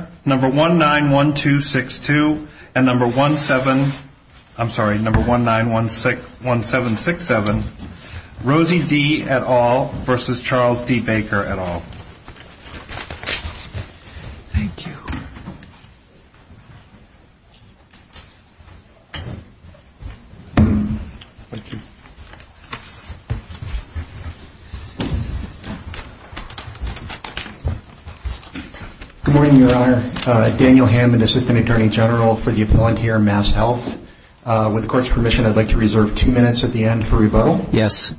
and number 1767, Rosie D. et al. v. Charles D. Baker et al. Thank you. Good morning, Your Honor. Daniel Hammond, Assistant Attorney General for the Appellant here in Mass Health. With the Court's permission, I'd like to reserve two minutes at the end for rebuttal. Yes.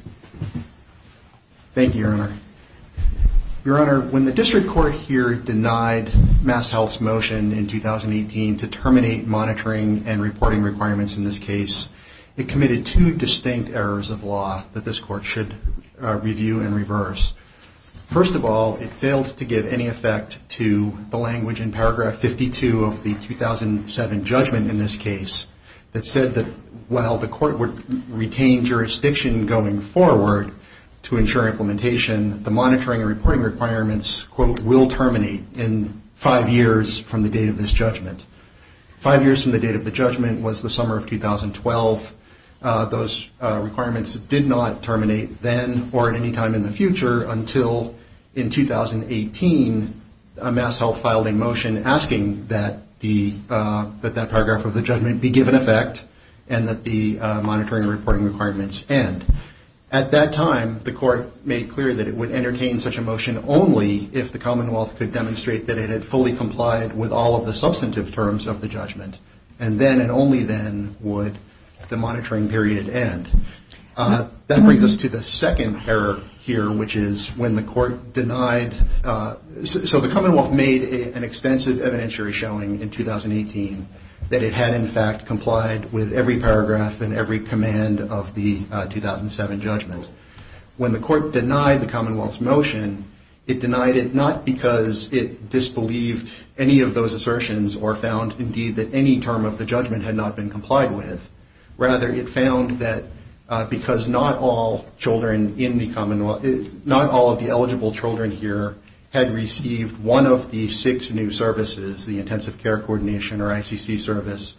Thank you, Your Honor. Your Honor, when the District Court here denied Mass Health's motion in 2018 to terminate monitoring and reporting requirements in this case, it committed two distinct errors of law that this Court should review and reverse. First of all, it failed to give any effect to the language in paragraph 52 of the 2007 judgment in this case that said that while the Court would retain jurisdiction going forward to ensure implementation, the monitoring and reporting requirements, quote, will terminate in five years from the date of this judgment. Five years from the date of the judgment was the summer of 2012. Those requirements did not terminate then or at any time in the future until in 2018 Mass Health filed a motion asking that that paragraph of the judgment be given effect and that the monitoring and reporting requirements end. At that time, the Court made clear that it would entertain such a motion only if the Commonwealth could demonstrate that it had fully complied with all of the substantive terms of the judgment. And then and only then would the monitoring period end. That brings us to the second error here, which is when the Court denied... So the Commonwealth made an extensive evidentiary showing in 2018 that it had, in fact, complied with every paragraph and every command of the 2007 judgment. When the Court denied the Commonwealth's motion, it denied it not because it disbelieved any of those assertions or found, indeed, that any term of the judgment had not been complied with. Rather, it found that because not all children in the Commonwealth, not all of the eligible children here had received one of the six new services, the intensive care coordination or ICC service,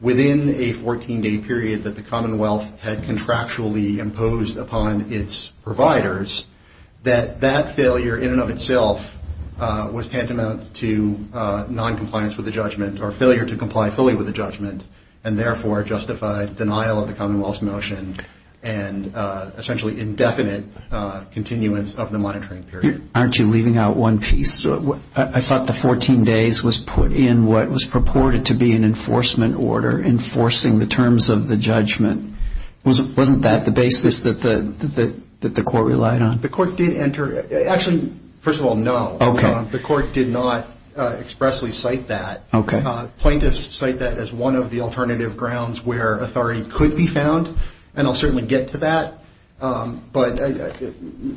within a 14-day period that the Commonwealth had contractually imposed upon its providers, that that failure, in and of itself, was tantamount to noncompliance with the judgment or failure to comply fully with the judgment and, therefore, justified denial of the Commonwealth's motion and essentially indefinite continuance of the monitoring period. Aren't you leaving out one piece? I thought the 14 days was put in what was purported to be an enforcement order, enforcing the terms of the judgment. Wasn't that the basis that the Court relied on? The Court did enter... Actually, first of all, no. The Court did not expressly cite that. Plaintiffs cite that as one of the alternative grounds where authority could be found, and I'll certainly get to that, but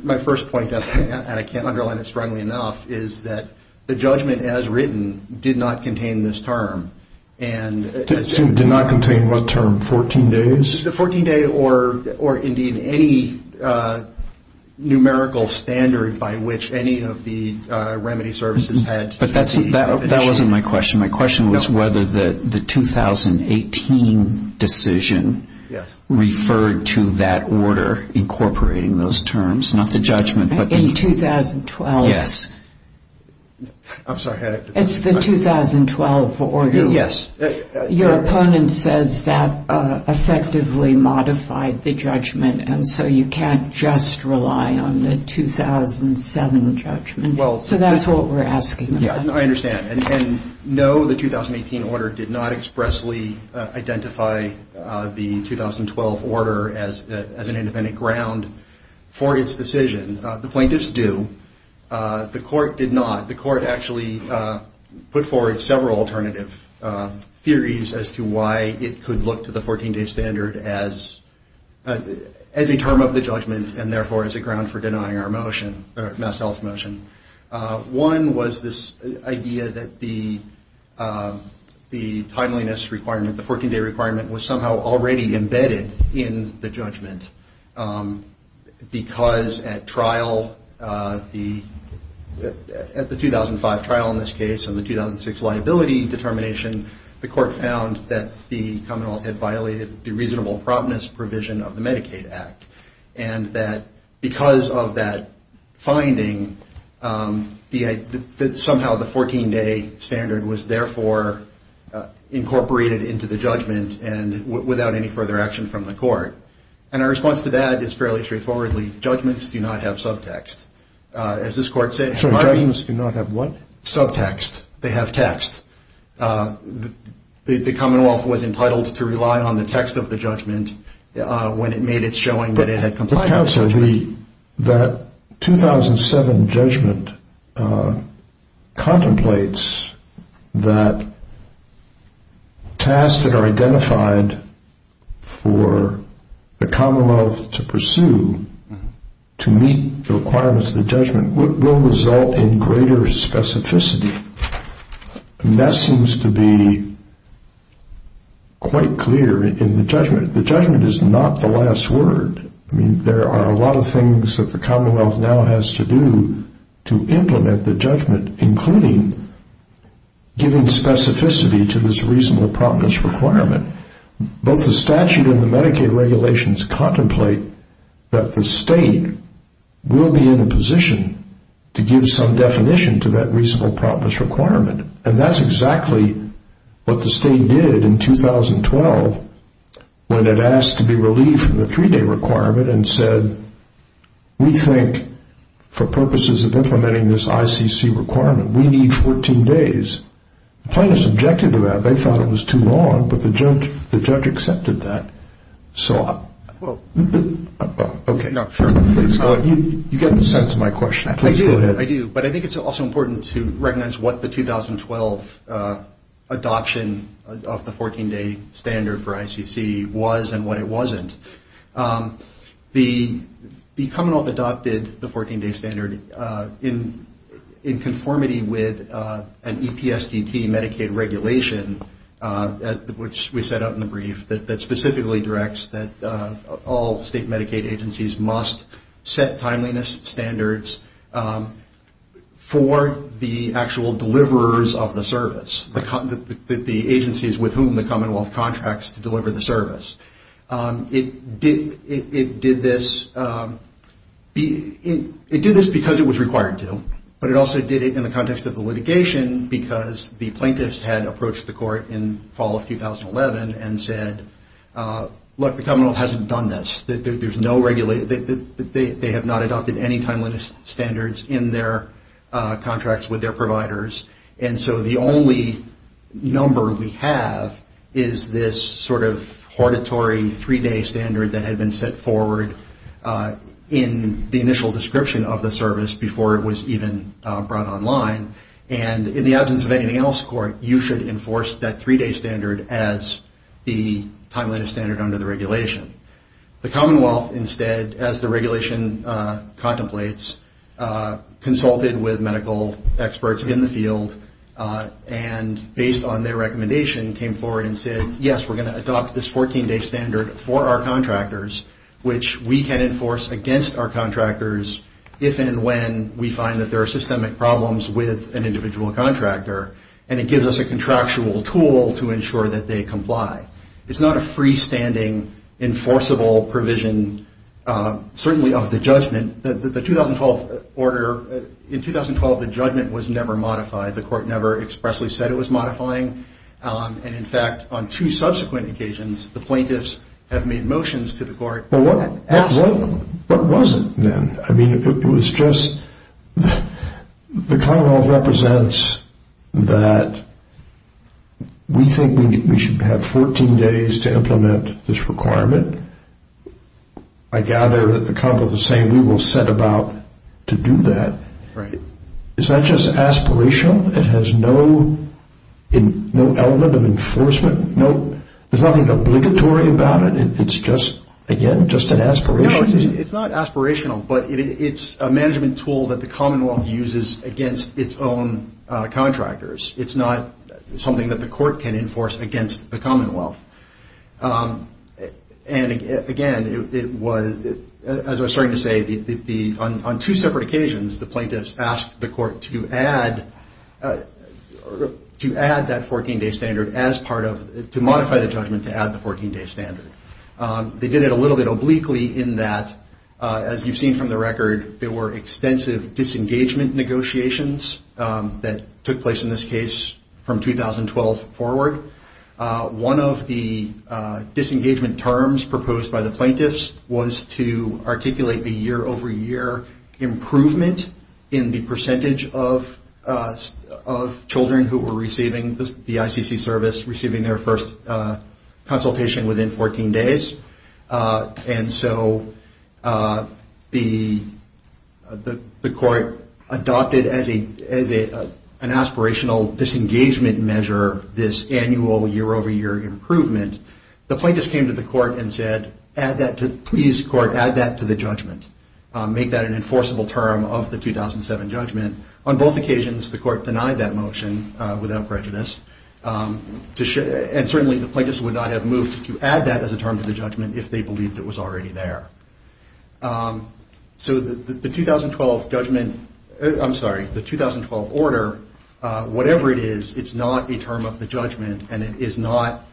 my first point, and I can't underline it strongly enough, is that the judgment, as written, did not contain this term. Did not contain what term? Fourteen days? The 14-day or, indeed, any numerical standard by which any of the remedy services had... That wasn't my question. My question was whether the 2018 decision referred to that order incorporating those terms, not the judgment, but the... In 2012? Yes. I'm sorry. It's the 2012 order. Yes. Your opponent says that effectively modified the judgment, and so you can't just rely on the 2007 judgment. So that's what we're asking about. I understand. And no, the 2018 order did not expressly identify the 2012 order as an independent ground for its decision. The plaintiffs do. The court did not. The court actually put forward several alternative theories as to why it could look to the 14-day standard as a term of the judgment, and therefore as a ground for denying our motion, MassHealth's motion. One was this idea that the timeliness requirement, the 14-day requirement, was somehow already at the 2005 trial in this case and the 2006 liability determination, the court found that the commonwealth had violated the reasonable promptness provision of the Medicaid Act, and that because of that finding, that somehow the 14-day standard was therefore incorporated into the judgment and without any further action from the court. And our response to that is fairly straightforwardly. Judgments do not have subtext. As this court said... Judgments do not have what? Subtext. They have text. The commonwealth was entitled to rely on the text of the judgment when it made its showing that it had complied with the judgment. But counsel, that 2007 judgment contemplates that tasks that are identified for the commonwealth to pursue to meet the requirements of the judgment will result in greater specificity. And that seems to be quite clear in the judgment. The judgment is not the last word. I mean, there are a lot of things that the commonwealth now has to do to implement the judgment, including giving specificity to this reasonable promptness requirement. Both the statute and the Medicaid regulations contemplate that the state will be in a position to give some definition to that reasonable promptness requirement, and that's exactly what the state did in 2012 when it asked to be relieved from the three-day requirement and said, we think for purposes of implementing this ICC requirement, we need 14 days. The plaintiffs objected to that. They thought it was too long, but the judge accepted that. So, you get the sense of my question. Please go ahead. I do, but I think it's also important to recognize what the 2012 adoption of the 14-day standard for ICC was and what it wasn't. The commonwealth adopted the 14-day standard in conformity with an EPSDT Medicaid regulation, which we set up in the brief, that specifically directs that all state Medicaid agencies must set timeliness standards for the actual deliverers of the service, the agencies with whom the service is delivered. It did this because it was required to, but it also did it in the context of the litigation, because the plaintiffs had approached the court in fall of 2011 and said, look, the commonwealth hasn't done this. They have not adopted any timeliness standards in their contracts with their providers, and so the only number we have is this sort of hortatory three-day standard that had been set forward in the initial description of the service before it was even brought online, and in the absence of anything else, court, you should enforce that three-day standard as the timeliness standard under the regulation. The commonwealth instead, as the regulation contemplates, consulted with medical experts in the field and, based on their recommendation, came forward and said, yes, we're going to adopt this 14-day standard for our contractors, which we can enforce against our contractors if and when we find that there are systemic problems with an individual contractor, and it gives us a contractual tool to ensure that they comply. It's not a freestanding, enforceable provision, certainly of the judgment. The 2012 order, in 2012, the judgment was never modified. The court never expressly said it was modifying, and, in fact, on two subsequent occasions, the plaintiffs have made motions to the court. Absolutely. What was it then? I mean, it was just the commonwealth represents that we think we should have 14 days to implement this requirement. I gather that the commonwealth is saying we will set about to do that. Right. Is that just aspirational? It has no element of enforcement? There's nothing obligatory about it? It's just, again, just an aspiration? No, it's not aspirational, but it's a management tool that the commonwealth uses against its own contractors. It's not something that the court can enforce against the commonwealth. And, again, it was, as I was starting to say, on two separate occasions, the plaintiffs asked the court to add that 14-day standard as part of, to modify the judgment to add the 14-day standard. They did it a little bit obliquely in that, as you've seen from the record, there were extensive disengagement negotiations that took place in this case from 2012 forward. One of the disengagement terms proposed by the plaintiffs was to articulate the year-over-year improvement in the percentage of children who were receiving the ICC service, receiving their first consultation within 14 days. And so the court adopted as an aspirational disengagement measure this annual year-over-year improvement. The plaintiffs came to the court and said, please, court, add that to the judgment. Make that an enforceable term of the 2007 judgment. On both occasions, the court denied that motion without prejudice. And certainly the plaintiffs would not have moved to add that as a term to the judgment if they believed it was already there. So the 2012 judgment, I'm sorry, the 2012 order, whatever it is, it's not a term of the judgment. And it is not,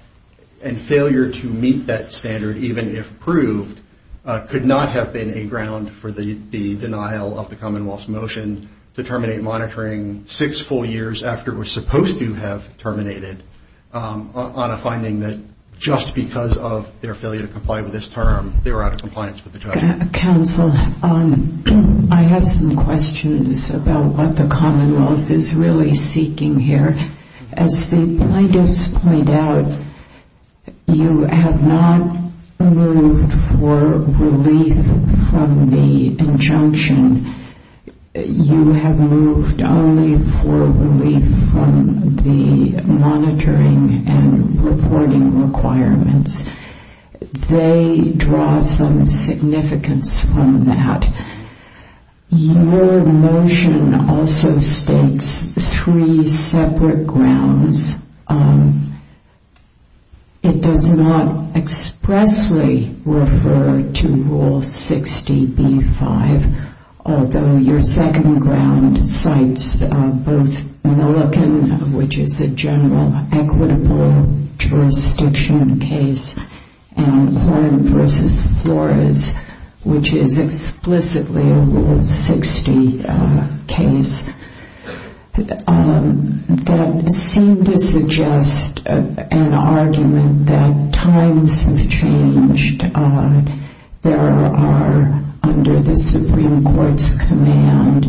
and failure to meet that standard, even if proved, could not have been a ground for the denial of the Commonwealth's motion to terminate monitoring six full years after it was supposed to have terminated, on a finding that just because of their failure to comply with this term, they were out of compliance with the judgment. Counsel, I have some questions about what the Commonwealth is really seeking here. As the plaintiffs point out, you have not moved for relief from the injunction. You have moved only for relief from the monitoring and reporting requirements. They draw some significance from that. Your motion also states three separate grounds. It does not expressly refer to Rule 60B-5, although your second ground cites both Milliken, which is a general equitable jurisdiction case, and Horn v. Flores, which is explicitly a Rule 60 case. That seemed to suggest an argument that times have changed. There are, under the Supreme Court's command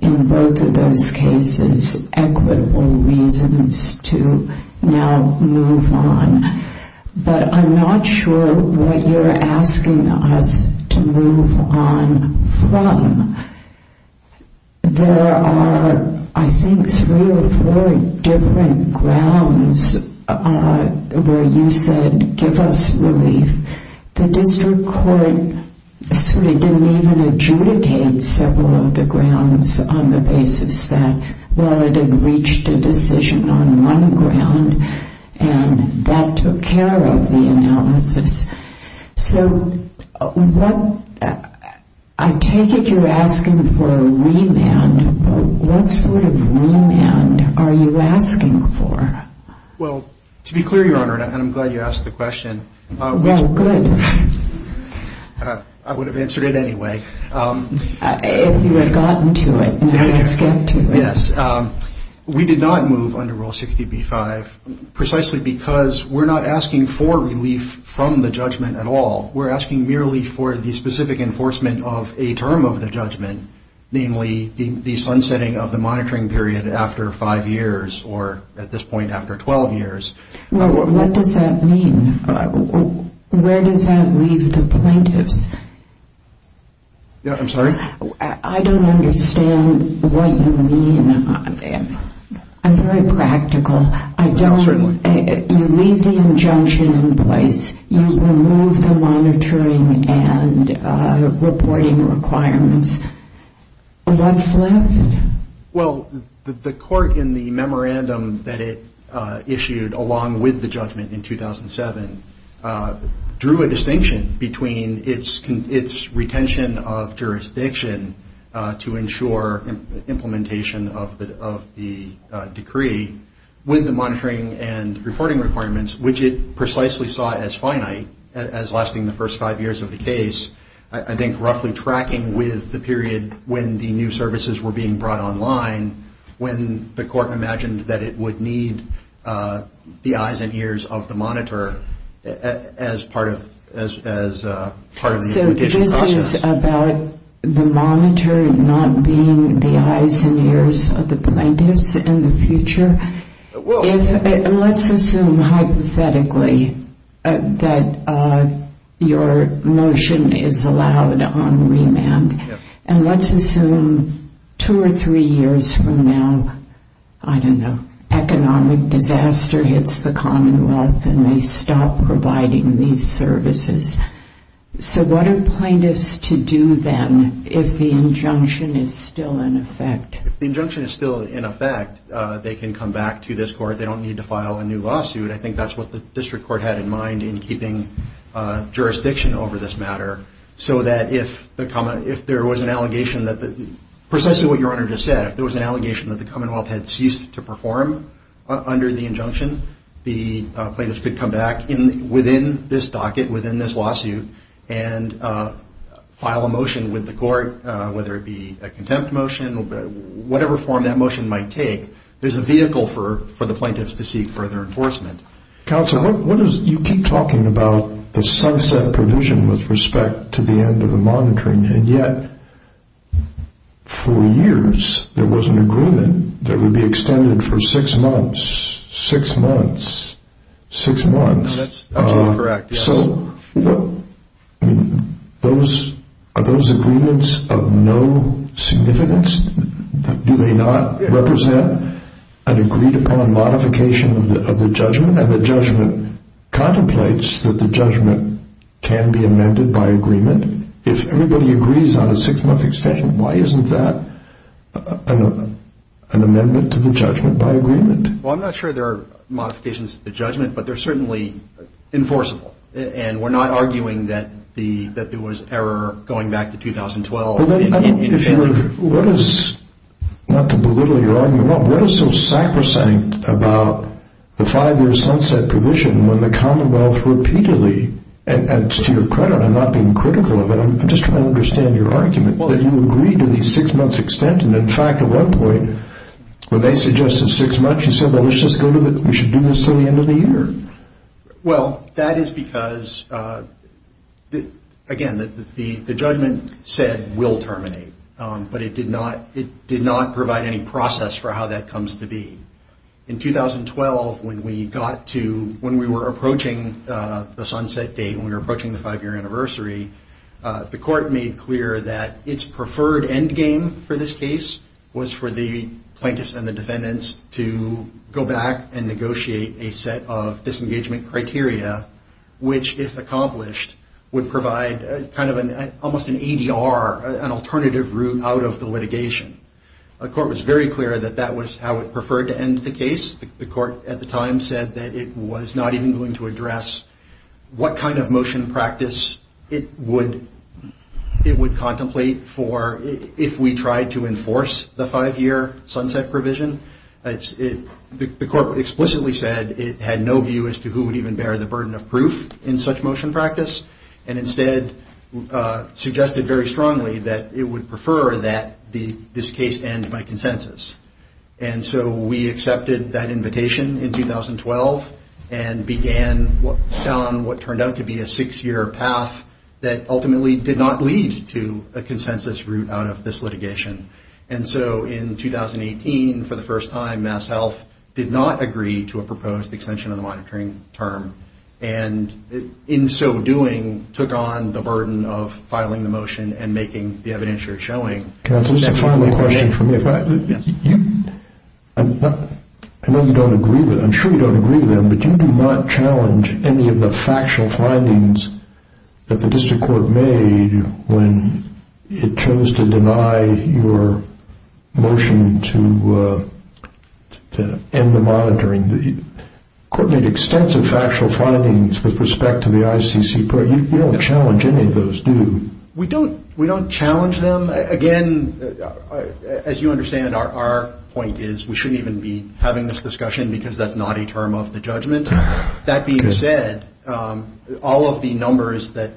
in both of those cases, equitable reasons to now move on. But I'm not sure what you're asking us to move on from. There are, I think, three or four different grounds where you said, give us relief. The district court sort of didn't even adjudicate several of the grounds on the basis that, well, it had reached a decision on one ground, and that took care of the analysis. So I take it you're asking for a remand. What sort of remand are you asking for? Well, to be clear, Your Honor, and I'm glad you asked the question. I would have answered it anyway. If you had gotten to it and I had skipped to it. Yes. We did not move under Rule 60B-5 precisely because we're not asking for relief from the judgment at all. We're asking merely for the specific enforcement of a term of the judgment, namely the sunsetting of the monitoring period after five years or, at this point, after 12 years. What does that mean? Where does that leave the plaintiffs? I'm sorry? I don't understand what you mean. I'm very practical. You leave the injunction in place. You remove the monitoring and reporting requirements. Well, the court in the memorandum that it issued, along with the judgment in 2007, drew a distinction between its retention of jurisdiction to ensure implementation of the decree with the monitoring and reporting requirements, which it precisely saw as finite, as lasting the first five years of the case, I think roughly tracking with the period when the new services were being brought online, when the court imagined that it would need the eyes and ears of the monitor as part of the implementation process. So this is about the monitor not being the eyes and ears of the plaintiffs in the future? Let's assume hypothetically that your motion is allowed on remand. And let's assume two or three years from now, I don't know, economic disaster hits the Commonwealth and they stop providing these services. So what are plaintiffs to do then if the injunction is still in effect? They can come back to this court. They don't need to file a new lawsuit. I think that's what the district court had in mind in keeping jurisdiction over this matter, so that if there was an allegation, precisely what your Honor just said, if there was an allegation that the Commonwealth had ceased to perform under the injunction, the plaintiffs could come back within this docket, within this lawsuit, and file a motion with the court, whether it be a contempt motion, whatever form that motion might take. There's a vehicle for the plaintiffs to seek further enforcement. Counsel, you keep talking about the sunset provision with respect to the end of the monitoring, and yet for years there was an agreement that would be extended for six months, six months, six months. That's absolutely correct, yes. Are those agreements of no significance? Do they not represent an agreed-upon modification of the judgment? And the judgment contemplates that the judgment can be amended by agreement. If everybody agrees on a six-month extension, why isn't that an amendment to the judgment by agreement? Well, I'm not sure there are modifications to the judgment, but they're certainly enforceable. And we're not arguing that there was error going back to 2012. What is, not to belittle your argument, what is so sacrosanct about the five-year sunset provision when the Commonwealth repeatedly, and to your credit, I'm not being critical of it, I'm just trying to understand your argument, that you agree to the six-month extension. In fact, at one point, when they suggested six months, you said, well, let's just go with it. We should do this until the end of the year. Well, that is because, again, the judgment said we'll terminate. But it did not provide any process for how that comes to be. In 2012, when we were approaching the sunset date, when we were approaching the five-year anniversary, the court made clear that its preferred endgame for this case was for the plaintiffs and the defendants to go back and negotiate a set of disengagement criteria, which, if accomplished, would provide kind of almost an ADR, an alternative route out of the litigation. The court was very clear that that was how it preferred to end the case. The court at the time said that it was not even going to address what kind of motion practice it would contemplate for if we tried to enforce the five-year sunset provision. The court explicitly said it had no view as to who would even bear the burden of proof in such motion practice, and instead suggested very strongly that it would prefer that this case end by consensus. And so we accepted that invitation in 2012 and began on what turned out to be a six-year path that ultimately did not lead to a consensus route out of this litigation. And so in 2018, for the first time, MassHealth did not agree to a proposed extension of the monitoring term, and in so doing, took on the burden of filing the motion and making the evidence you're showing. Can I ask a final question from you? I know you don't agree with them, I'm sure you don't agree with them, but you do not challenge any of the factual findings that the district court made when it chose to deny your motion to end the monitoring. The court made extensive factual findings with respect to the ICC program. You don't challenge any of those, do you? We don't challenge them. Again, as you understand, our point is we shouldn't even be having this discussion because that's not a term of the judgment. That being said, all of the numbers that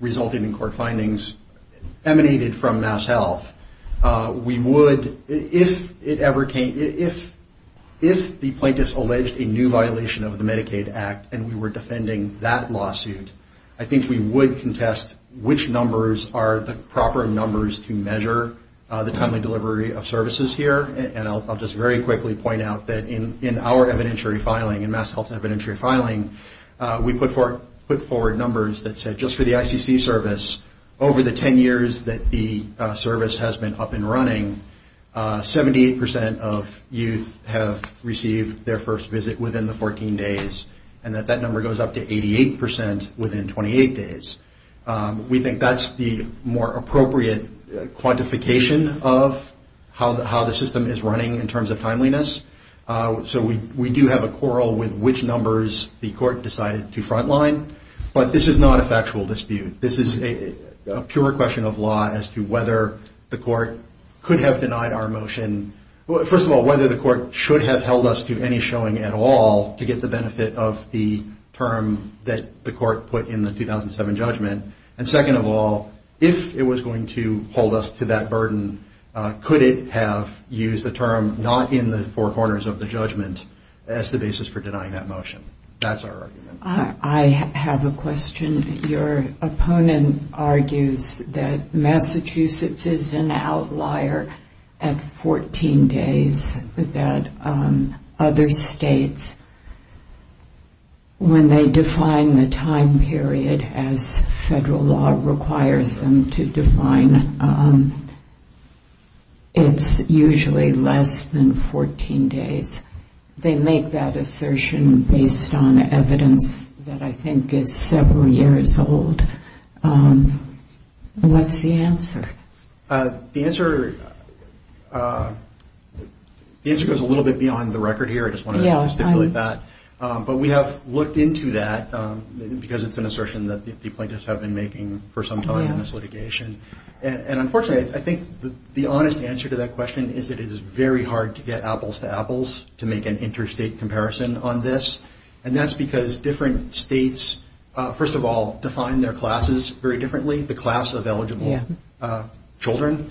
resulted in court findings emanated from MassHealth. If the plaintiffs alleged a new violation of the Medicaid Act and we were defending that lawsuit, I think we would contest which numbers are the proper numbers to measure the timely delivery of services here, and I'll just very quickly point out that in our evidentiary filing, in MassHealth's evidentiary filing, we put forward numbers that said just for the ICC service, over the 10 years that the service has been up and running, 78% of youth have received their first visit within the 14 days, and that that number goes up to 88% within 28 days. We think that's the more appropriate quantification of how the system is running in terms of timeliness, so we do have a quarrel with which numbers the court decided to front line, but this is not a factual dispute. This is a pure question of law as to whether the court could have denied our motion. First of all, whether the court should have held us to any showing at all to get the benefit of the term that the court put in the 2007 judgment, and second of all, if it was going to hold us to that burden, could it have used the term not in the four corners of the judgment as the basis for denying that motion? That's our argument. I have a question. Your opponent argues that Massachusetts is an outlier at 14 days, that other states, when they define the time period as federal law requires them to define, it's usually less than 14 days. They make that assertion based on evidence that I think is several years old. What's the answer? The answer goes a little bit beyond the record here. I just want to stipulate that, but we have looked into that because it's an assertion that the plaintiffs have been making for some time in this litigation, and unfortunately I think the honest answer to that question is that it is very hard to get apples to apples to make an interstate comparison on this, and that's because different states, first of all, define their classes very differently, the class of eligible children.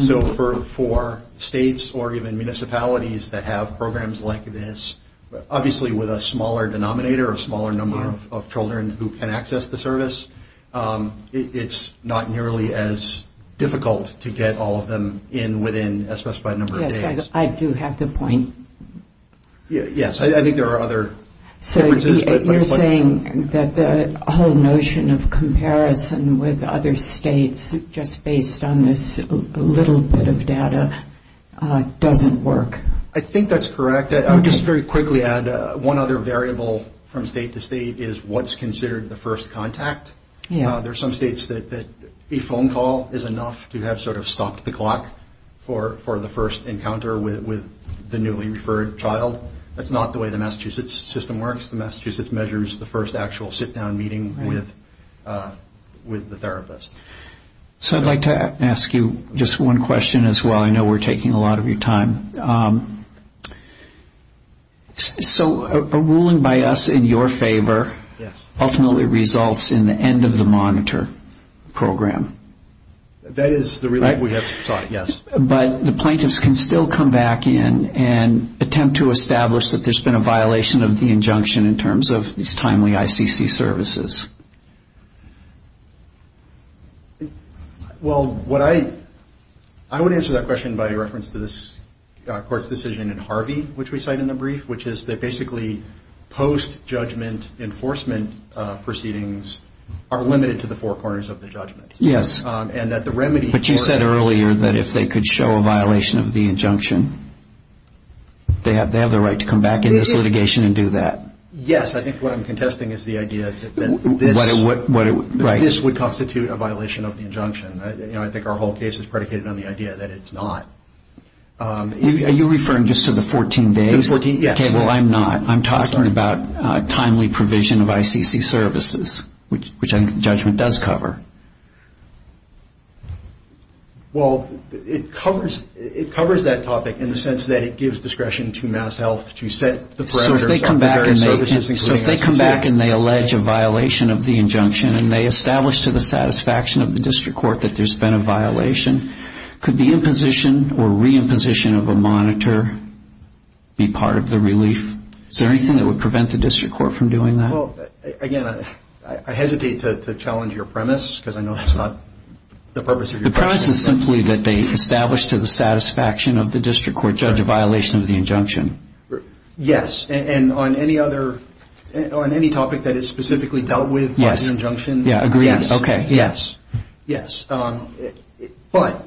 So for states or even municipalities that have programs like this, obviously with a smaller denominator, a smaller number of children who can access the service, it's not nearly as difficult to get all of them in within a specified number of days. Yes, I do have the point. Yes, I think there are other differences. So you're saying that the whole notion of comparison with other states just based on this little bit of data doesn't work? I think that's correct. I would just very quickly add one other variable from state to state is what's considered the first contact. There are some states that a phone call is enough to have sort of stopped the clock for the first encounter with the newly referred child. That's not the way the Massachusetts system works. The Massachusetts measures the first actual sit-down meeting with the therapist. So I'd like to ask you just one question as well. I know we're taking a lot of your time. So a ruling by us in your favor ultimately results in the end of the monitor program. That is the relief we have sought, yes. But the plaintiffs can still come back in and attempt to establish that there's been a violation of the injunction in terms of these timely ICC services. Well, I would answer that question by reference to this court's decision in Harvey, which we cite in the brief, which is that basically post-judgment enforcement proceedings are limited to the four corners of the judgment. Yes. But you said earlier that if they could show a violation of the injunction, they have the right to come back in this litigation and do that. Yes. I think what I'm contesting is the idea that this would constitute a violation of the injunction. I think our whole case is predicated on the idea that it's not. Are you referring just to the 14 days? The 14, yes. Okay, well, I'm not. I'm talking about timely provision of ICC services, which I think the judgment does cover. Well, it covers that topic in the sense that it gives discretion to MassHealth to set the parameters. So if they come back and they allege a violation of the injunction and they establish to the satisfaction of the district court that there's been a violation, could the imposition or reimposition of a monitor be part of the relief? Is there anything that would prevent the district court from doing that? Well, again, I hesitate to challenge your premise. Because I know that's not the purpose of your question. The premise is simply that they establish to the satisfaction of the district court judge a violation of the injunction. Yes. And on any other – on any topic that is specifically dealt with by an injunction? Yes. Okay, yes. Yes. But,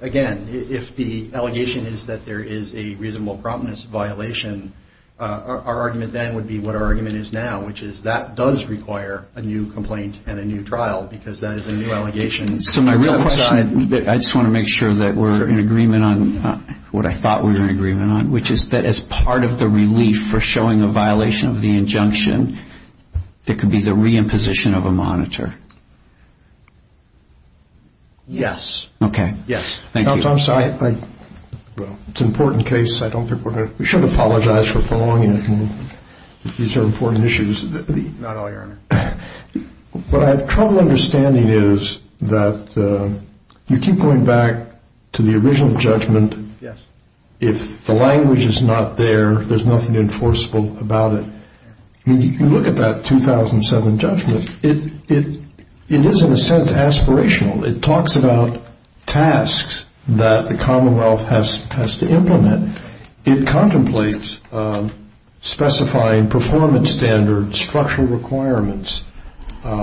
again, if the allegation is that there is a reasonable prominence violation, our argument then would be what our argument is now, which is that does require a new complaint and a new trial because that is a new allegation. So my real question – I just want to make sure that we're in agreement on – what I thought we were in agreement on, which is that as part of the relief for showing a violation of the injunction, there could be the reimposition of a monitor. Yes. Okay. Yes. Thank you. I'm sorry. It's an important case. I don't think we're going to – we should apologize for prolonging it. These are important issues. Not at all, Your Honor. What I have trouble understanding is that you keep going back to the original judgment. Yes. If the language is not there, there's nothing enforceable about it. When you look at that 2007 judgment, it is, in a sense, aspirational. It talks about tasks that the Commonwealth has to implement. It contemplates specifying performance standards, structural requirements,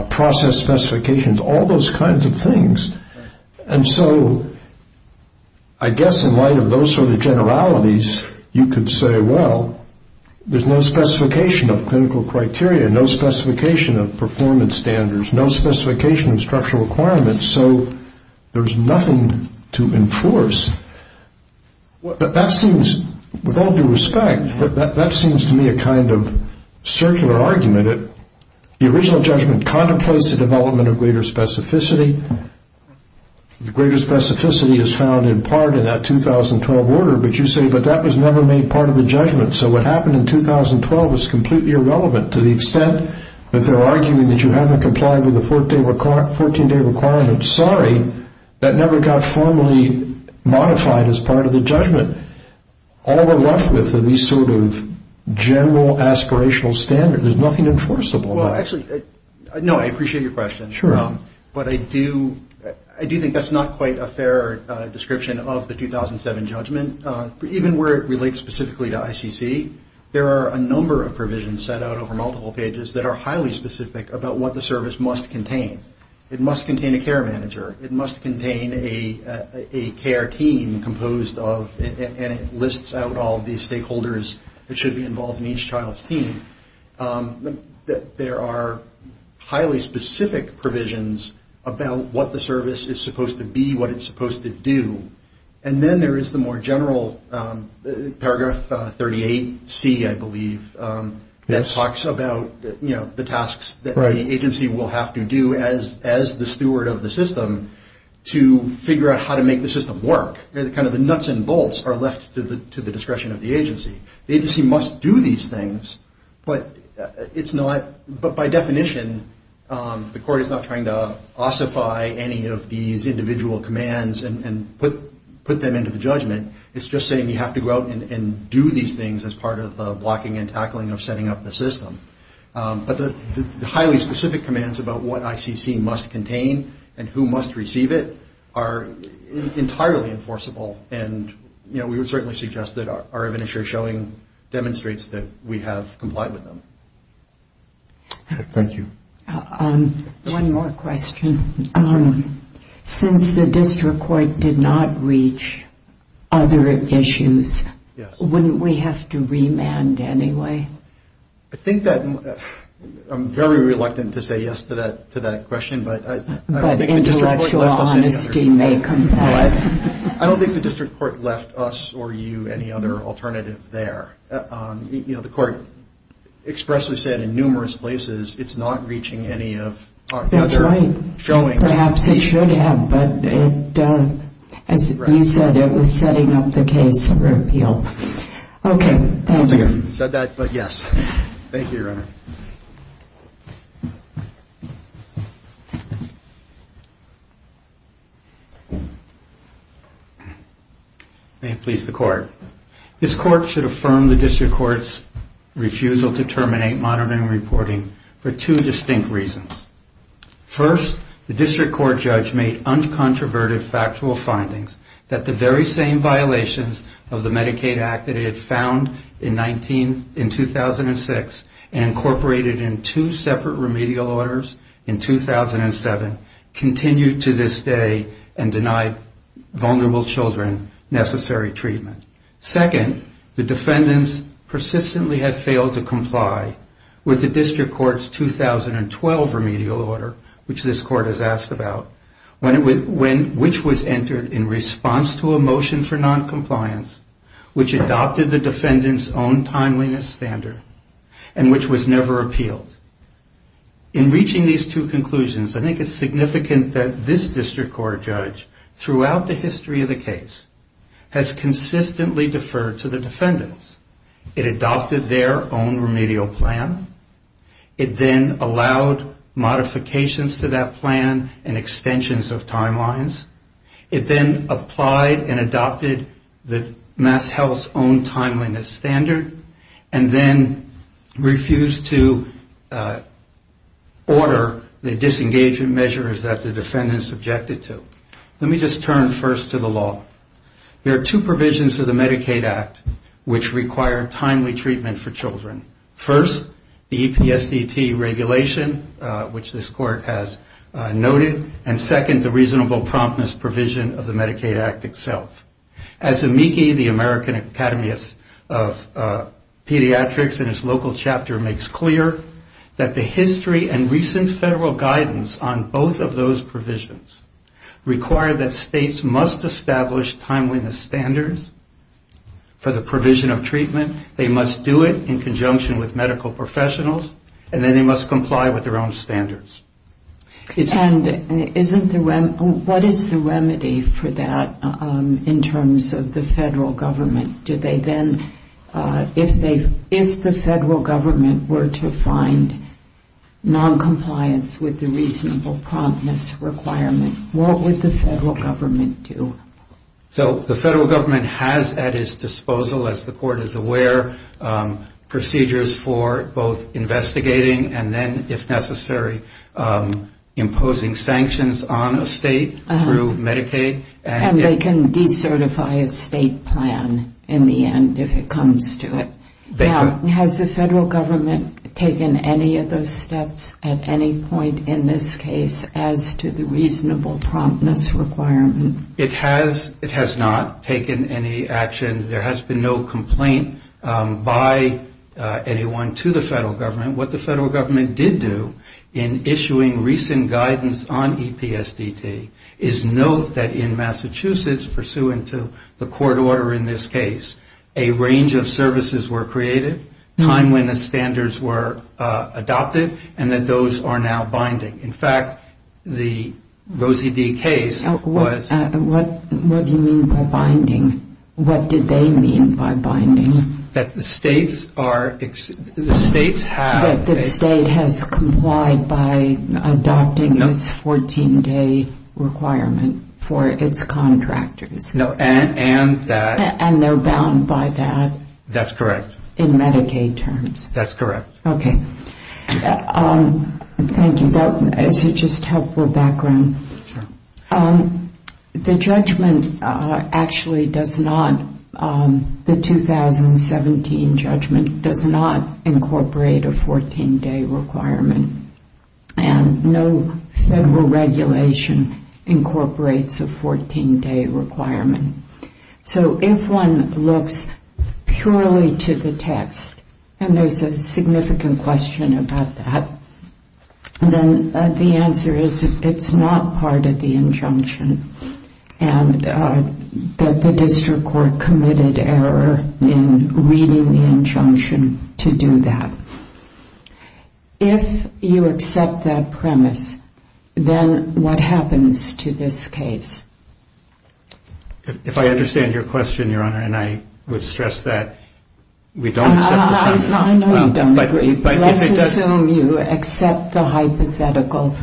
process specifications, all those kinds of things. And so I guess in light of those sort of generalities, you could say, well, there's no specification of clinical criteria, no specification of performance standards, no specification of structural requirements, so there's nothing to enforce. But that seems, with all due respect, that that seems to me a kind of circular argument. The original judgment contemplates the development of greater specificity. The greater specificity is found in part in that 2012 order, but you say, but that was never made part of the judgment, so what happened in 2012 is completely irrelevant to the extent that they're arguing that you haven't complied with the 14-day requirement. Sorry, that never got formally modified as part of the judgment. All we're left with are these sort of general aspirational standards. There's nothing enforceable about it. Well, actually, no, I appreciate your question. Sure. But I do think that's not quite a fair description of the 2007 judgment. Even where it relates specifically to ICC, there are a number of provisions set out over multiple pages that are highly specific about what the service must contain. It must contain a care manager. It must contain a care team composed of, and it lists out all of these stakeholders that should be involved in each child's team. There are highly specific provisions about what the service is supposed to be, what it's supposed to do. And then there is the more general paragraph 38C, I believe, that talks about the tasks that the agency will have to do as the steward of the system to figure out how to make the system work. The nuts and bolts are left to the discretion of the agency. The agency must do these things, but by definition, the court is not trying to ossify any of these individual commands and put them into the judgment. It's just saying you have to go out and do these things as part of the blocking and tackling of setting up the system. But the highly specific commands about what ICC must contain and who must receive it are entirely enforceable, and we would certainly suggest that our evidence you're showing demonstrates that we have complied with them. Thank you. One more question. Since the district court did not reach other issues, wouldn't we have to remand anyway? I think that I'm very reluctant to say yes to that question. But intellectual honesty may compel it. I don't think the district court left us or you any other alternative there. The court expressly said in numerous places it's not reaching any other Perhaps it should have, but as you said, it was setting up the case for appeal. Okay, thank you. I don't think I said that, but yes. Thank you, Your Honor. May it please the Court. This Court should affirm the district court's refusal to terminate monitoring for two distinct reasons. First, the district court judge made uncontroverted factual findings that the very same violations of the Medicaid Act that it had found in 2006 and incorporated in two separate remedial orders in 2007 continued to this day and denied vulnerable children necessary treatment. Second, the defendants persistently have failed to comply with the district court's 2012 remedial order, which this court has asked about, which was entered in response to a motion for noncompliance, which adopted the defendants' own timeliness standard, and which was never appealed. In reaching these two conclusions, I think it's significant that this district court judge, throughout the history of the case, has consistently deferred to the defendants. It adopted their own remedial plan. It then allowed modifications to that plan and extensions of timelines. It then applied and adopted the MassHealth's own timeliness standard and then refused to order the disengagement measures that the defendants objected to. Let me just turn first to the law. There are two provisions of the Medicaid Act which require timely treatment for children. First, the EPSDT regulation, which this court has noted, and second, the reasonable promptness provision of the Medicaid Act itself. As Amiki, the American Academist of Pediatrics in his local chapter makes clear, that the history and recent federal guidance on both of those provisions require that states must establish timeliness standards for the provision of treatment. They must do it in conjunction with medical professionals, and then they must comply with their own standards. And what is the remedy for that in terms of the federal government? Do they then, if the federal government were to find noncompliance with the reasonable promptness requirement, what would the federal government do? So the federal government has at its disposal, as the court is aware, procedures for both investigating and then, if necessary, imposing sanctions on a state through Medicaid. And they can decertify a state plan in the end if it comes to it. Now, has the federal government taken any of those steps at any point in this case as to the reasonable promptness requirement? It has not taken any action. There has been no complaint by anyone to the federal government. What the federal government did do in issuing recent guidance on EPSDT is note that in Massachusetts, pursuant to the court order in this case, a range of services were created, time when the standards were adopted, and that those are now binding. In fact, the Rosie D. case was ---- What do you mean by binding? What did they mean by binding? That the states are ---- That the state has complied by adopting this 14-day requirement for its contractors. No, and that ---- And they're bound by that. That's correct. In Medicaid terms. That's correct. Okay. Thank you. That is just helpful background. The judgment actually does not, the 2017 judgment, does not incorporate a 14-day requirement. And no federal regulation incorporates a 14-day requirement. So if one looks purely to the text, and there's a significant question about that, then the answer is it's not part of the injunction. And the district court committed error in reading the injunction to do that. If you accept that premise, then what happens to this case? If I understand your question, Your Honor, and I would stress that we don't accept the premise. I know you don't agree. Let's assume you accept the hypothetical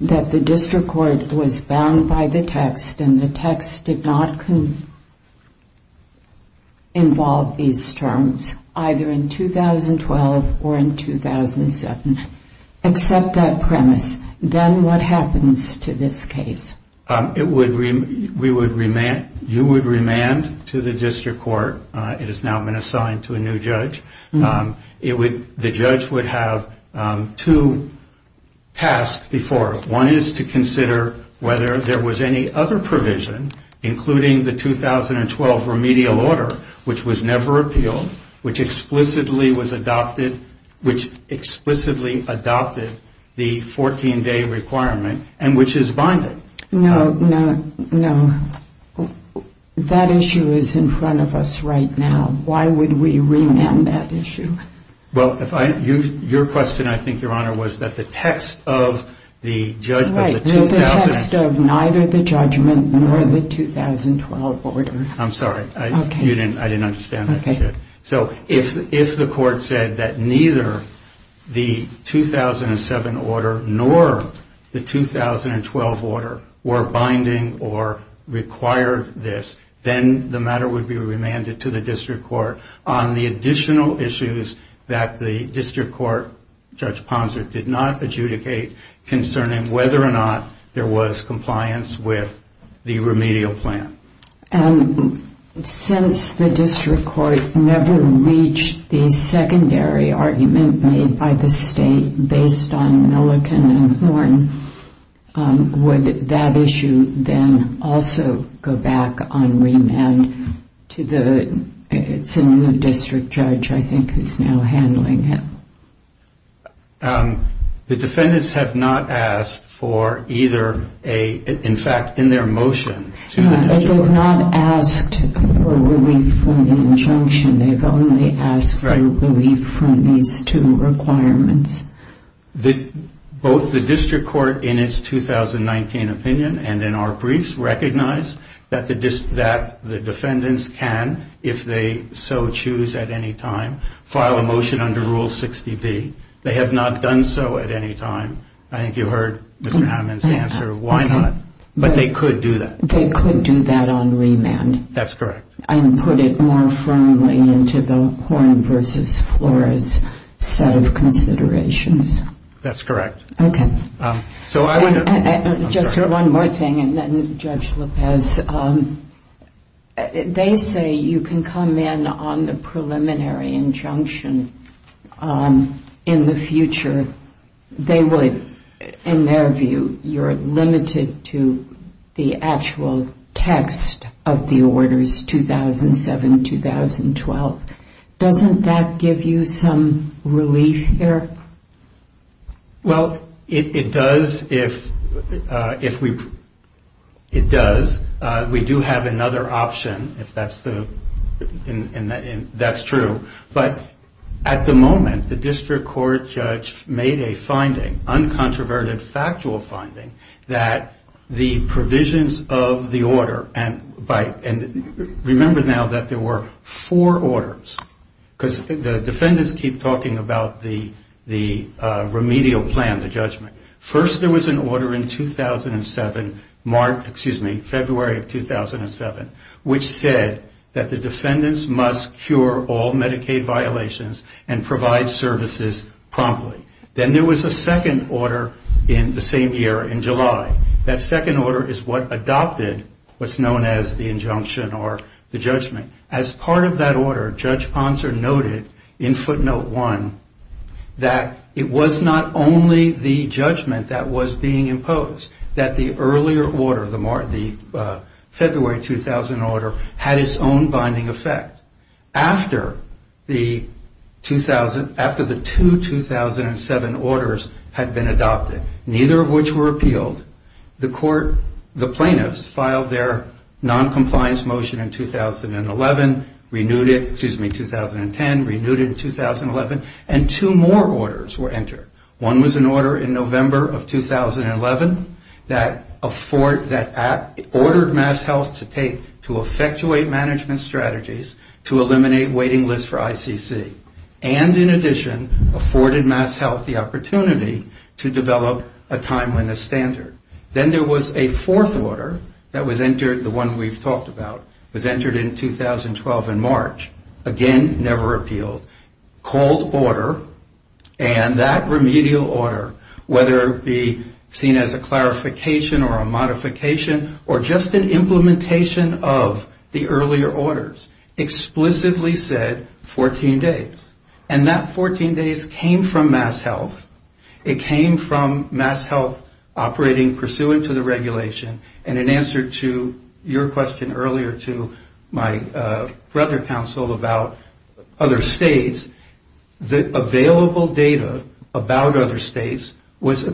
that the district court was bound by the text and the text did not involve these terms, either in 2012 or in 2007. Accept that premise. Then what happens to this case? You would remand to the district court. It has now been assigned to a new judge. The judge would have two tasks before. One is to consider whether there was any other provision, including the 2012 remedial order, which was never appealed, which explicitly adopted the 14-day requirement and which is binded. No, no, no. That issue is in front of us right now. Why would we remand that issue? Well, your question, I think, Your Honor, was that the text of the judgment of the 2007. Right, the text of neither the judgment nor the 2012 order. I'm sorry. I didn't understand that. Okay. So if the court said that neither the 2007 order nor the 2012 order were binding or required this, then the matter would be remanded to the district court on the additional issues that the district court, Judge Ponser, did not adjudicate concerning whether or not there was compliance with the remedial plan. And since the district court never reached the secondary argument made by the state based on Milliken and Horne, would that issue then also go back on remand to the district judge, I think, who's now handling it? The defendants have not asked for either a, in fact, in their motion to the district court. They've not asked for relief from the injunction. They've only asked for relief from these two requirements. Both the district court in its 2019 opinion and in our briefs recognize that the defendants can, if they so choose at any time, file a motion under Rule 60B. They have not done so at any time. I think you heard Mr. Hammond's answer of why not. But they could do that. They could do that on remand. That's correct. And put it more firmly into the Horne versus Flores set of considerations. That's correct. Okay. Just one more thing, and then Judge Lopez. They say you can come in on the preliminary injunction in the future. They would, in their view, you're limited to the actual text of the orders 2007-2012. Doesn't that give you some relief there? Well, it does if we do have another option, if that's true. But at the moment, the district court judge made a finding, uncontroverted factual finding, that the provisions of the order, and remember now that there were four orders, because the defendants keep talking about the remedial plan, the judgment. First there was an order in 2007, March, excuse me, February of 2007, which said that the defendants must cure all Medicaid violations and provide services promptly. Then there was a second order in the same year in July. That second order is what adopted what's known as the injunction or the judgment. As part of that order, Judge Ponser noted in footnote one that it was not only the judgment that was being imposed, that the earlier order, the February 2000 order, had its own binding effect. After the two 2007 orders had been adopted, neither of which were appealed, the plaintiffs filed their noncompliance motion in 2011, renewed it, excuse me, 2010, renewed it in 2011, and two more orders were entered. One was an order in November of 2011 that ordered MassHealth to take to effectuate management strategies to eliminate waiting lists for ICC. And in addition, afforded MassHealth the opportunity to develop a timeliness standard. Then there was a fourth order that was entered, the one we've talked about, was entered in 2012 in March. Again, never appealed. Cold order, and that remedial order, whether it be seen as a clarification or a modification or just an implementation of the earlier orders, explicitly said 14 days. And that 14 days came from MassHealth. It came from MassHealth operating pursuant to the regulation, and in answer to your question earlier to my brother council about other states, the available data about other states was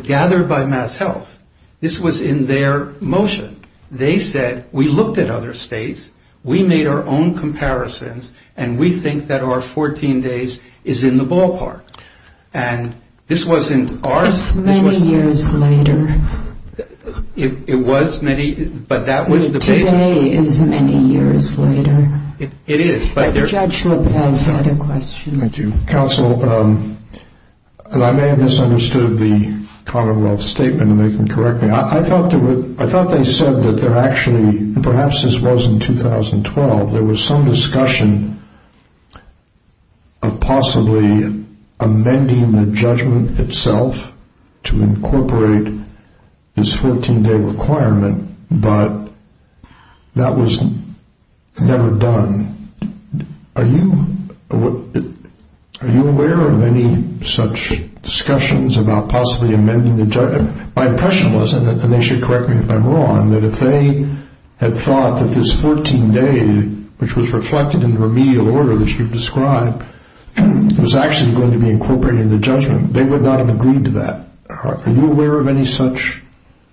gathered by MassHealth. This was in their motion. They said we looked at other states, we made our own comparisons, and we think that our 14 days is in the ballpark. And this wasn't ours. It was many, but that was the basis. Today is many years later. Thank you. Council, I may have misunderstood the Commonwealth statement, and they can correct me. I thought they said that there actually, perhaps this was in 2012, there was some discussion of possibly amending the judgment itself to incorporate this 14-day requirement, but that was never done. Are you aware of any such discussions about possibly amending the judgment? My impression was, and they should correct me if I'm wrong, that if they had thought that this 14-day, which was reflected in the remedial order that you've described, was actually going to be incorporated in the judgment, they would not have agreed to that. Are you aware of any such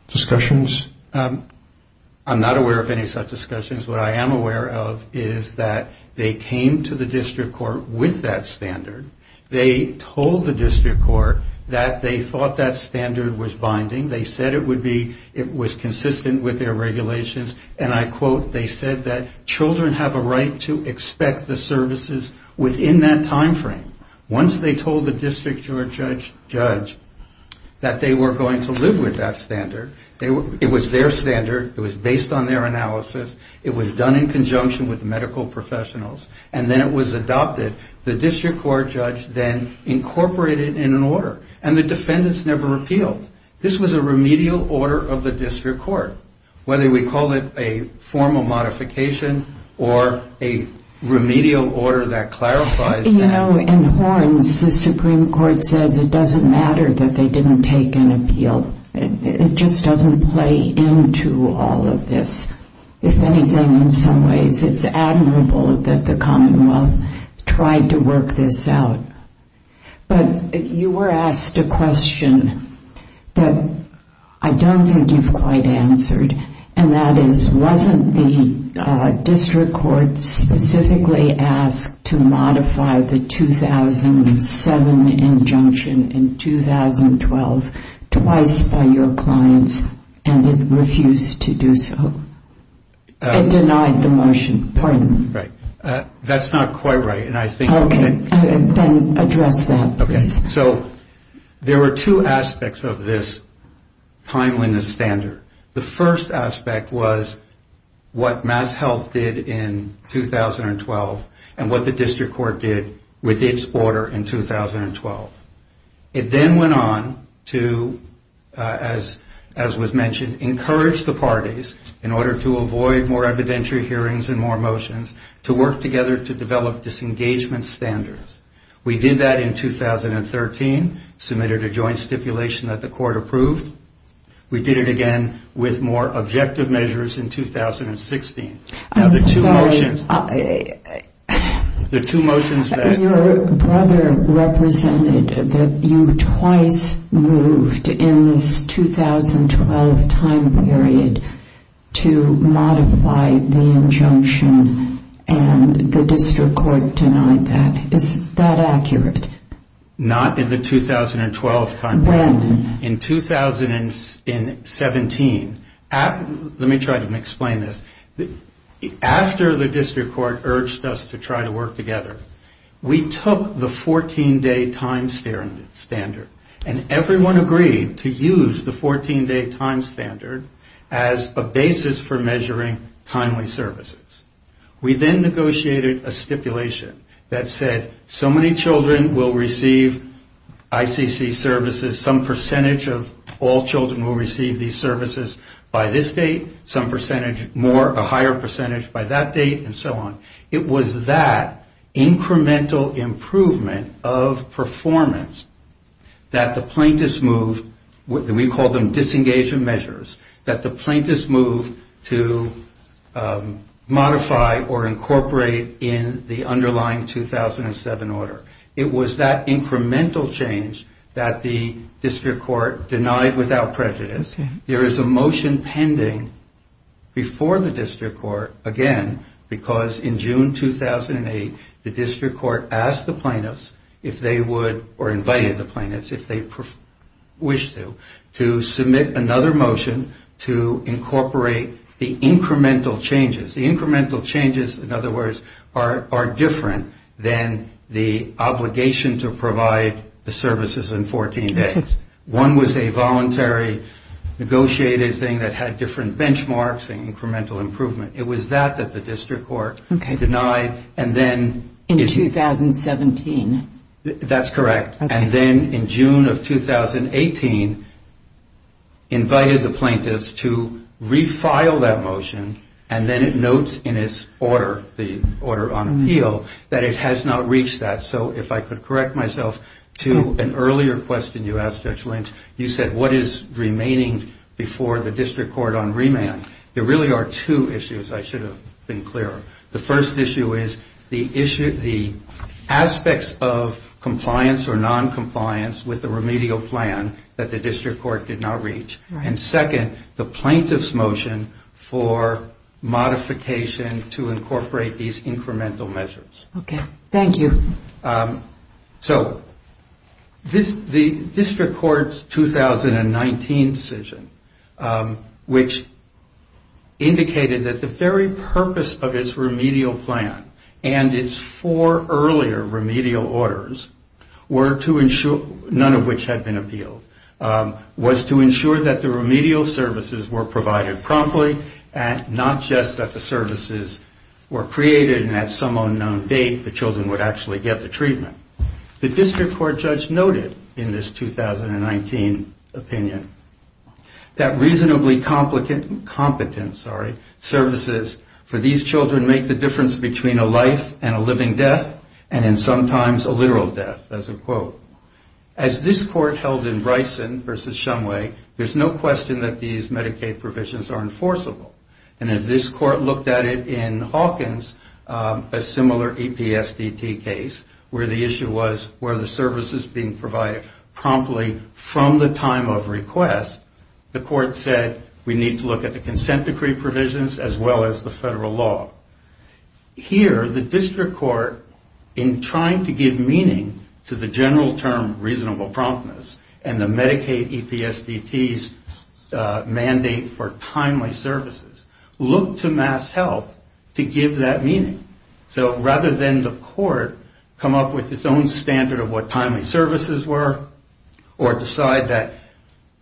discussions? I'm not aware of any such discussions. What I am aware of is that they came to the district court with that standard. They told the district court that they thought that standard was binding. They said it would be, it was consistent with their regulations, and I quote, they said that children have a right to expect the services within that time frame. Once they told the district judge that they were going to live with that standard, it was their standard, it was based on their analysis, it was done in conjunction with medical professionals, and then it was adopted. The district court judge then incorporated it in an order, and the defendants never repealed. This was a remedial order of the district court, whether we call it a formal modification or a remedial order that clarifies that. You know, in Horns, the Supreme Court says it doesn't matter that they didn't take an appeal. It just doesn't play into all of this. If anything, in some ways, it's admirable that the Commonwealth tried to work this out. But you were asked a question that I don't think you've quite answered, and that is, wasn't the district court specifically asked to modify the 2007 injunction in 2012, twice by your clients, and it refused to do so? It denied the motion. Pardon me. That's not quite right. Then address that, please. There were two aspects of this timeliness standard. The first aspect was what MassHealth did in 2012, and what the district court did with its order in 2012. It then went on to, as was mentioned, encourage the parties, in order to avoid more evidentiary hearings and more motions, to work together to develop disengagement standards. We did that in 2013, submitted a joint stipulation that the court approved. We did it again with more objective measures in 2016. Your brother represented that you twice moved in this 2012 time period to modify the injunction, and the district court denied that. Is that accurate? Not in the 2012 time period. When? In 2017. Let me try to explain this. After the district court urged us to try to work together, we took the 14-day time standard, and everyone agreed to use the 14-day time standard as a basis for measuring timely services. We then negotiated a stipulation that said so many children will receive ICC services, some percentage of all children will receive these services by this date, some percentage more, a higher percentage by that date, and so on. It was that incremental improvement of performance that the plaintiffs moved, we called them disengagement measures, that the plaintiffs moved to modify or incorporate in the underlying 2007 order. It was that incremental change that the district court denied without prejudice. There is a motion pending before the district court again, because in June 2008, the district court asked the plaintiffs, if they would, or invited the plaintiffs if they wished to, to submit another motion to incorporate the incremental changes. The incremental changes, in other words, are different than the obligation to provide the services in 14 days. One was a voluntary negotiated thing that had different benchmarks and incremental improvement. It was that that the district court denied, and then... In 2017. That's correct, and then in June of 2018, invited the plaintiffs to refile that motion, and then it notes in its order, the order on appeal, that it has not reached that. So if I could correct myself to an earlier question you asked, Judge Lynch, you said, what is remaining before the district court on remand? There really are two issues I should have been clearer. The first issue is the aspects of compliance or noncompliance with the remedial plan that the district court did not reach, and second, the plaintiff's motion for modification to incorporate these incremental measures. Okay, thank you. So the district court's 2019 decision, which indicated that the very purpose of its remedial plan, and its four earlier remedial orders, none of which had been appealed, was to ensure that the remedial services were provided promptly, and not just that the services were created and at some unknown date the children would actually get the treatment. The district court judge noted in this 2019 opinion, that reasonably competent services for these children make the difference between a life and a living death, and in sometimes a literal death, as a quote. As this court held in Bryson versus Shumway, there's no question that these Medicaid provisions are enforceable. And as this court looked at it in Hawkins, a similar EPSDT case, where the issue was were the services being provided promptly from the time of request, the court said we need to look at the consent decree provisions as well as the federal law. Here, the district court, in trying to give meaning to the general term reasonable promptness, and the Medicaid EPSDT's mandate for timely services, looked to MassHealth to give that meaning. So rather than the court come up with its own standard of what timely services were, or decide that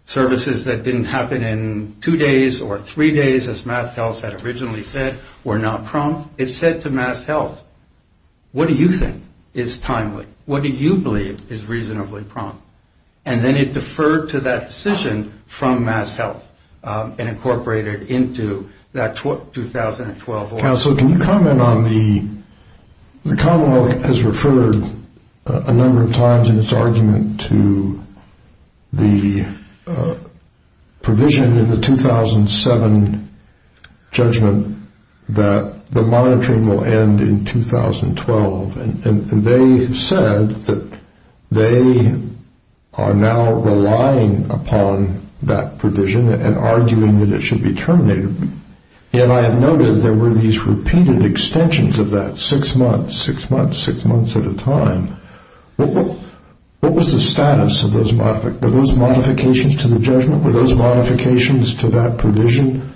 services that didn't happen in two days or three days, as MassHealth had originally said, were not prompt, it said to MassHealth, what do you think is timely? What do you believe is reasonably prompt? And then it deferred to that decision from MassHealth and incorporated into that 2012 law. Counsel, can you comment on the Commonwealth has referred a number of times in its argument to the provision in the 2007 judgment that the monitoring will end in 2012. And they said that they are now relying upon that provision and arguing that it should be terminated. And I have noted there were these repeated extensions of that, six months, six months, six months at a time. What was the status of those modifications to the judgment? Were those modifications to that provision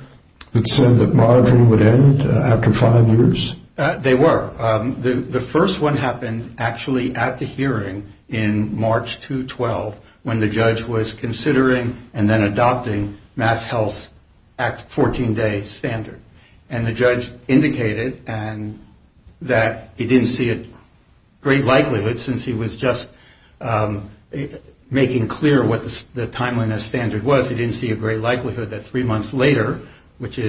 that said that monitoring would end after five years? They were. The first one happened actually at the hearing in March 2012, when the judge was considering and then adopting MassHealth's 14-day standard. And the judge indicated that he didn't see a great likelihood, since he was just making clear what the timeliness standard was, he didn't see a great likelihood that three months later, which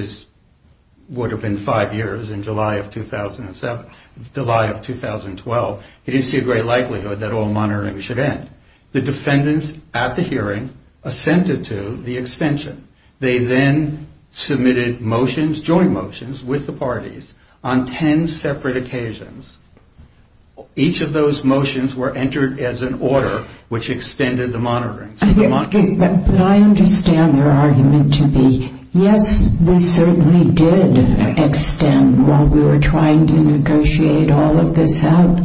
would have been five years in July of 2007, July of 2012, he didn't see a great likelihood that all monitoring should end. The defendants at the hearing assented to the extension. They then submitted motions, joint motions, with the parties on ten separate occasions. Each of those motions were entered as an order which extended the monitoring. But I understand their argument to be, yes, we certainly did extend while we were trying to negotiate all of this out.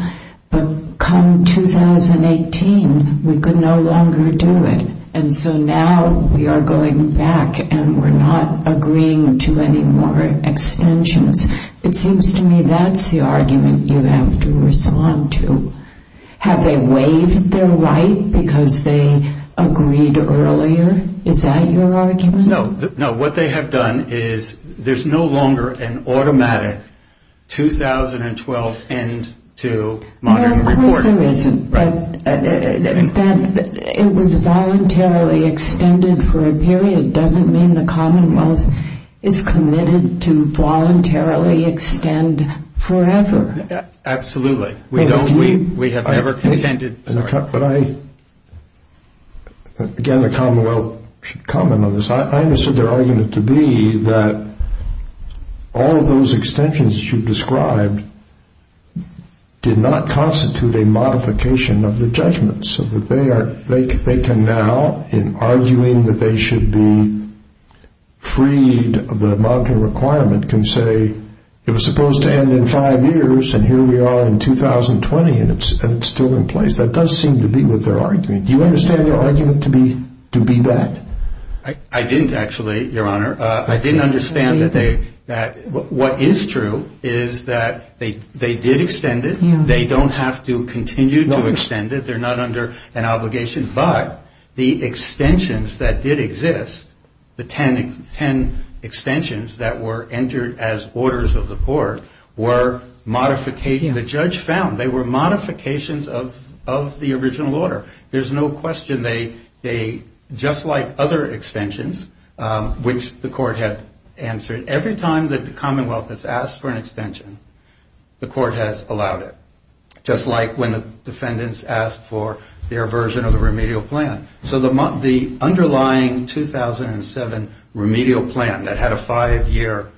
But come 2018, we could no longer do it. And so now we are going back and we're not agreeing to any more extensions. It seems to me that's the argument you have to respond to. Have they waived their right because they agreed earlier? Is that your argument? No. What they have done is there's no longer an automatic 2012 end to monitoring. Of course there isn't. But that it was voluntarily extended for a period doesn't mean the Commonwealth is committed to voluntarily extend forever. Absolutely. We have never contended. Again, the Commonwealth should comment on this. I understand their argument to be that all of those extensions that you've described did not constitute a modification of the judgment, so that they can now, in arguing that they should be freed of the monitoring requirement, can say it was supposed to end in five years and here we are in 2020 and it's still in place. That does seem to be what they're arguing. Do you understand their argument to be that? I didn't actually, Your Honor. I didn't understand that what is true is that they did extend it. They don't have to continue to extend it. They're not under an obligation. But the extensions that did exist, the ten extensions that were entered as orders of the court, were modificating. The judge found they were modifications of the original order. There's no question they, just like other extensions, which the court had answered, every time that the Commonwealth has asked for an extension, the court has allowed it. Just like when the defendants asked for their version of the remedial plan. So the underlying 2007 remedial plan that had a five-year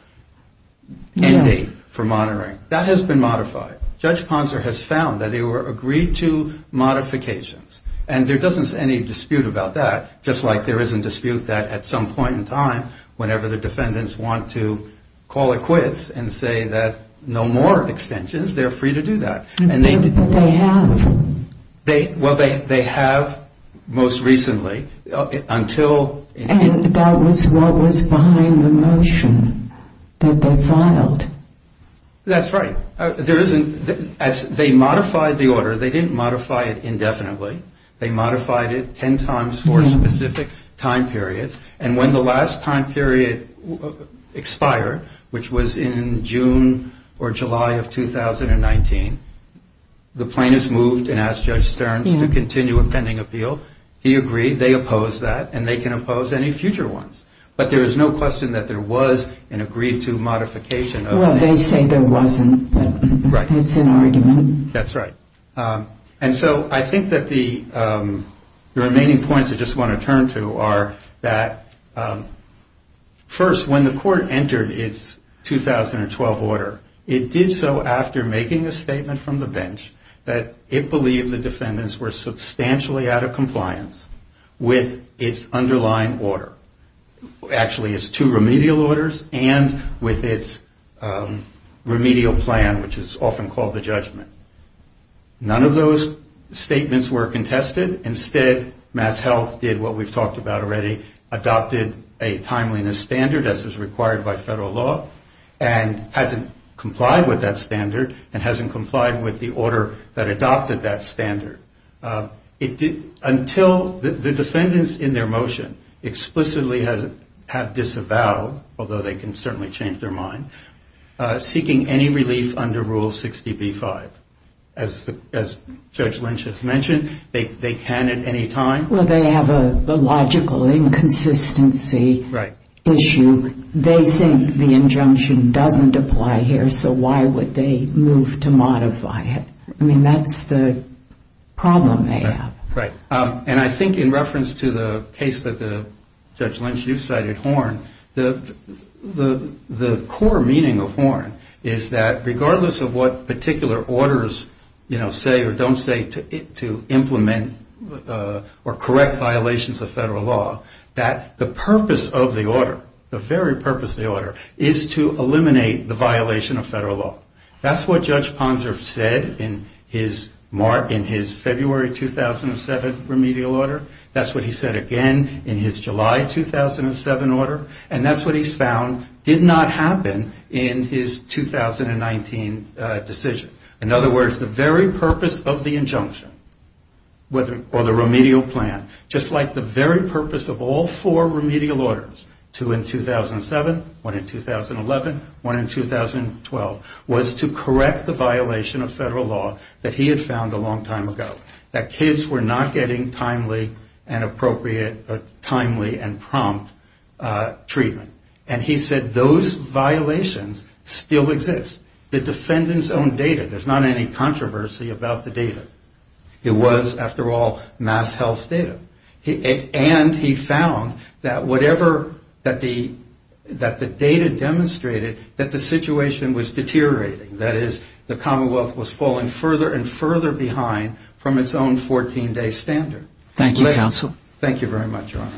end date for monitoring, that has been modified. Judge Ponser has found that they were agreed-to modifications. And there isn't any dispute about that, just like there isn't dispute that at some point in time, whenever the defendants want to call it quits and say that no more extensions, they're free to do that. But they have. Well, they have most recently. And that was what was behind the motion that they filed. That's right. They modified the order. They didn't modify it indefinitely. They modified it 10 times for specific time periods. And when the last time period expired, which was in June or July of 2019, the plaintiffs moved and asked Judge Stearns to continue offending appeal. He agreed. They opposed that. And they can oppose any future ones. But there is no question that there was an agreed-to modification. Well, they say there wasn't, but it's an argument. That's right. And so I think that the remaining points I just want to turn to are that, first, when the court entered its 2012 order, it did so after making a statement from the bench that it believed the defendants were substantially out of compliance with its underlying order. Actually, its two remedial orders and with its remedial plan, which is often called the judgment. None of those statements were contested. Instead, MassHealth did what we've talked about already, adopted a timeliness standard, as is required by federal law, and hasn't complied with that standard and hasn't complied with the order that adopted that standard. Until the defendants in their motion explicitly have disavowed, although they can certainly change their mind, seeking any relief under Rule 60B-5. As Judge Lynch has mentioned, they can at any time. Well, they have a logical inconsistency issue. They think the injunction doesn't apply here, so why would they move to modify it? I mean, that's the problem they have. In other words, the very purpose of the injunction, or the remedial plan, just like the very purpose of all four remedial orders, two in 2007, one in 2011, one in 2012, was to correct the violation of federal law. That he had found a long time ago. That kids were not getting timely and appropriate, timely and prompt treatment. And he said those violations still exist. The defendants own data. There's not any controversy about the data. It was, after all, MassHealth's data. And he found that whatever, that the data demonstrated that the situation was deteriorating. That is, the Commonwealth was falling further and further behind from its own 14-day standard. Thank you very much, Your Honor.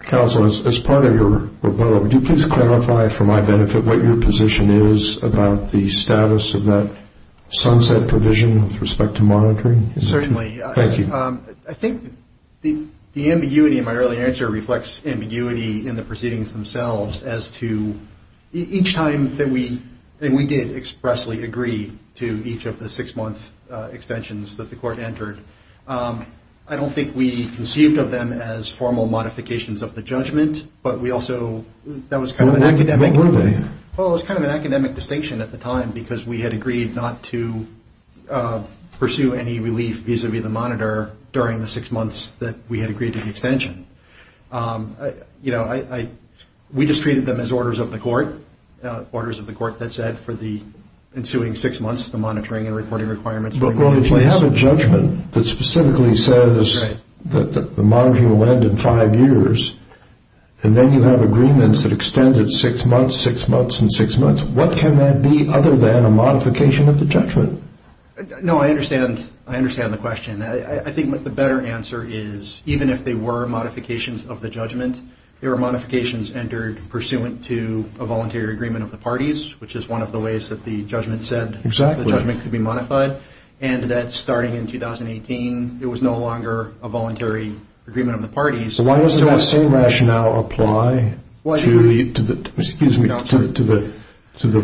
Counsel, as part of your report, would you please clarify for my benefit what your position is about the status of that sunset provision with respect to monitoring? Certainly. I think the ambiguity in my earlier answer reflects ambiguity in the proceedings themselves, as to each time that we did expressly agree to each of the six-month extensions that the court entered, I don't think we conceived of them as formal modifications of the judgment. But we also, that was kind of an academic distinction at the time, because we had agreed not to pursue any relegation. We had agreed not to pursue any relegation. We just treated them as orders of the court, orders of the court that said for the ensuing six months, the monitoring and reporting requirements. Well, if you have a judgment that specifically says that the monitoring will end in five years, and then you have agreements that extend it six months, six months, and six months, what can that be other than a modification of the judgment? No, I understand. I understand the question. I think the better answer is, even if they were modifications of the judgment, they were modifications entered pursuant to a voluntary agreement of the parties, which is one of the ways that the judgment said the judgment could be modified. And that starting in 2018, it was no longer a voluntary agreement of the parties. So why doesn't that same rationale apply to the 14-day extension? The 14-day extension of the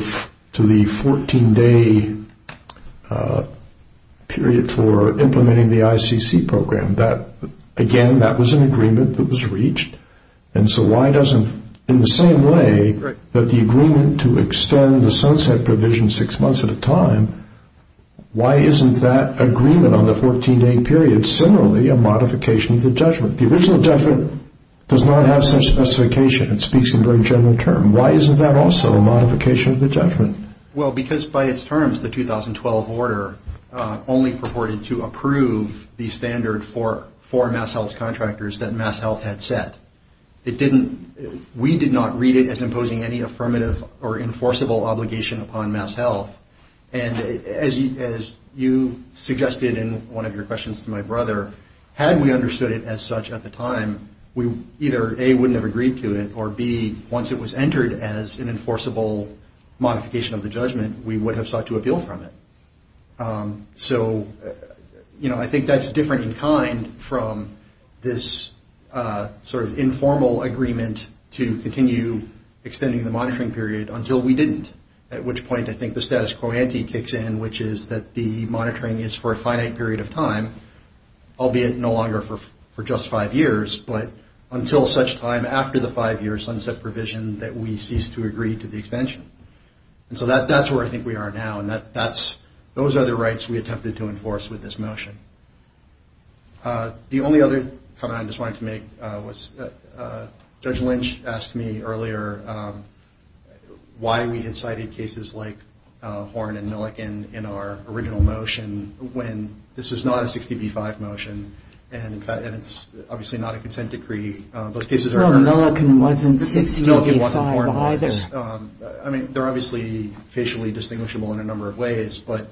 14-day period for implementing the ICC program, again, that was an agreement that was reached. And so why doesn't, in the same way that the agreement to extend the sunset provision six months at a time, why isn't that agreement on the 14-day period similarly a modification of the judgment? The original judgment does not have such specification. It speaks in very general terms. And why isn't that also a modification of the judgment? If it was considered as an enforceable modification of the judgment, we would have sought to appeal from it. So, you know, I think that's different in kind from this sort of informal agreement to continue extending the monitoring period until we didn't. At which point I think the status quo ante kicks in, which is that the monitoring is for a finite period of time, albeit no longer for just five years. But until such time after the five-year sunset provision that we cease to agree to the extension. And so that's where I think we are now. And those are the rights we attempted to enforce with this motion. The only other comment I just wanted to make was Judge Lynch asked me earlier why we had cited cases like Horn and Milliken in our original motion when this was not a 60B5 motion. And it's obviously not a consent decree. Those cases are... I mean, they're obviously facially distinguishable in a number of ways. But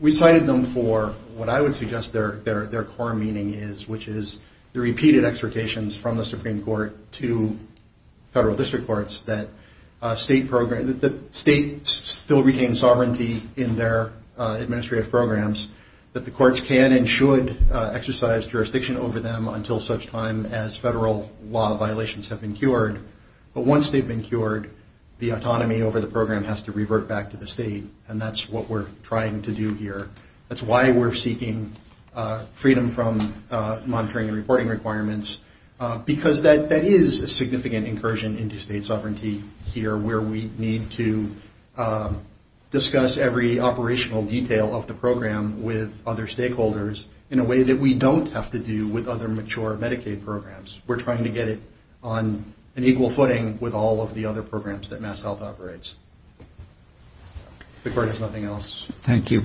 we cited them for what I would suggest their core meaning is, which is the repeated exhortations from the Supreme Court to federal district courts that states still retain sovereignty in their administrative programs. That the courts can and should exercise jurisdiction over them until such time as federal law violations have been cured. But once they've been cured, the autonomy over the program has to revert back to the state. And that's what we're trying to do here. That's why we're seeking freedom from monitoring and reporting requirements. Because that is a significant incursion into state sovereignty here where we need to discuss every operational detail of the program. And we need to do that with other stakeholders in a way that we don't have to do with other mature Medicaid programs. We're trying to get it on an equal footing with all of the other programs that MassHealth operates. If the court has nothing else. Thank you.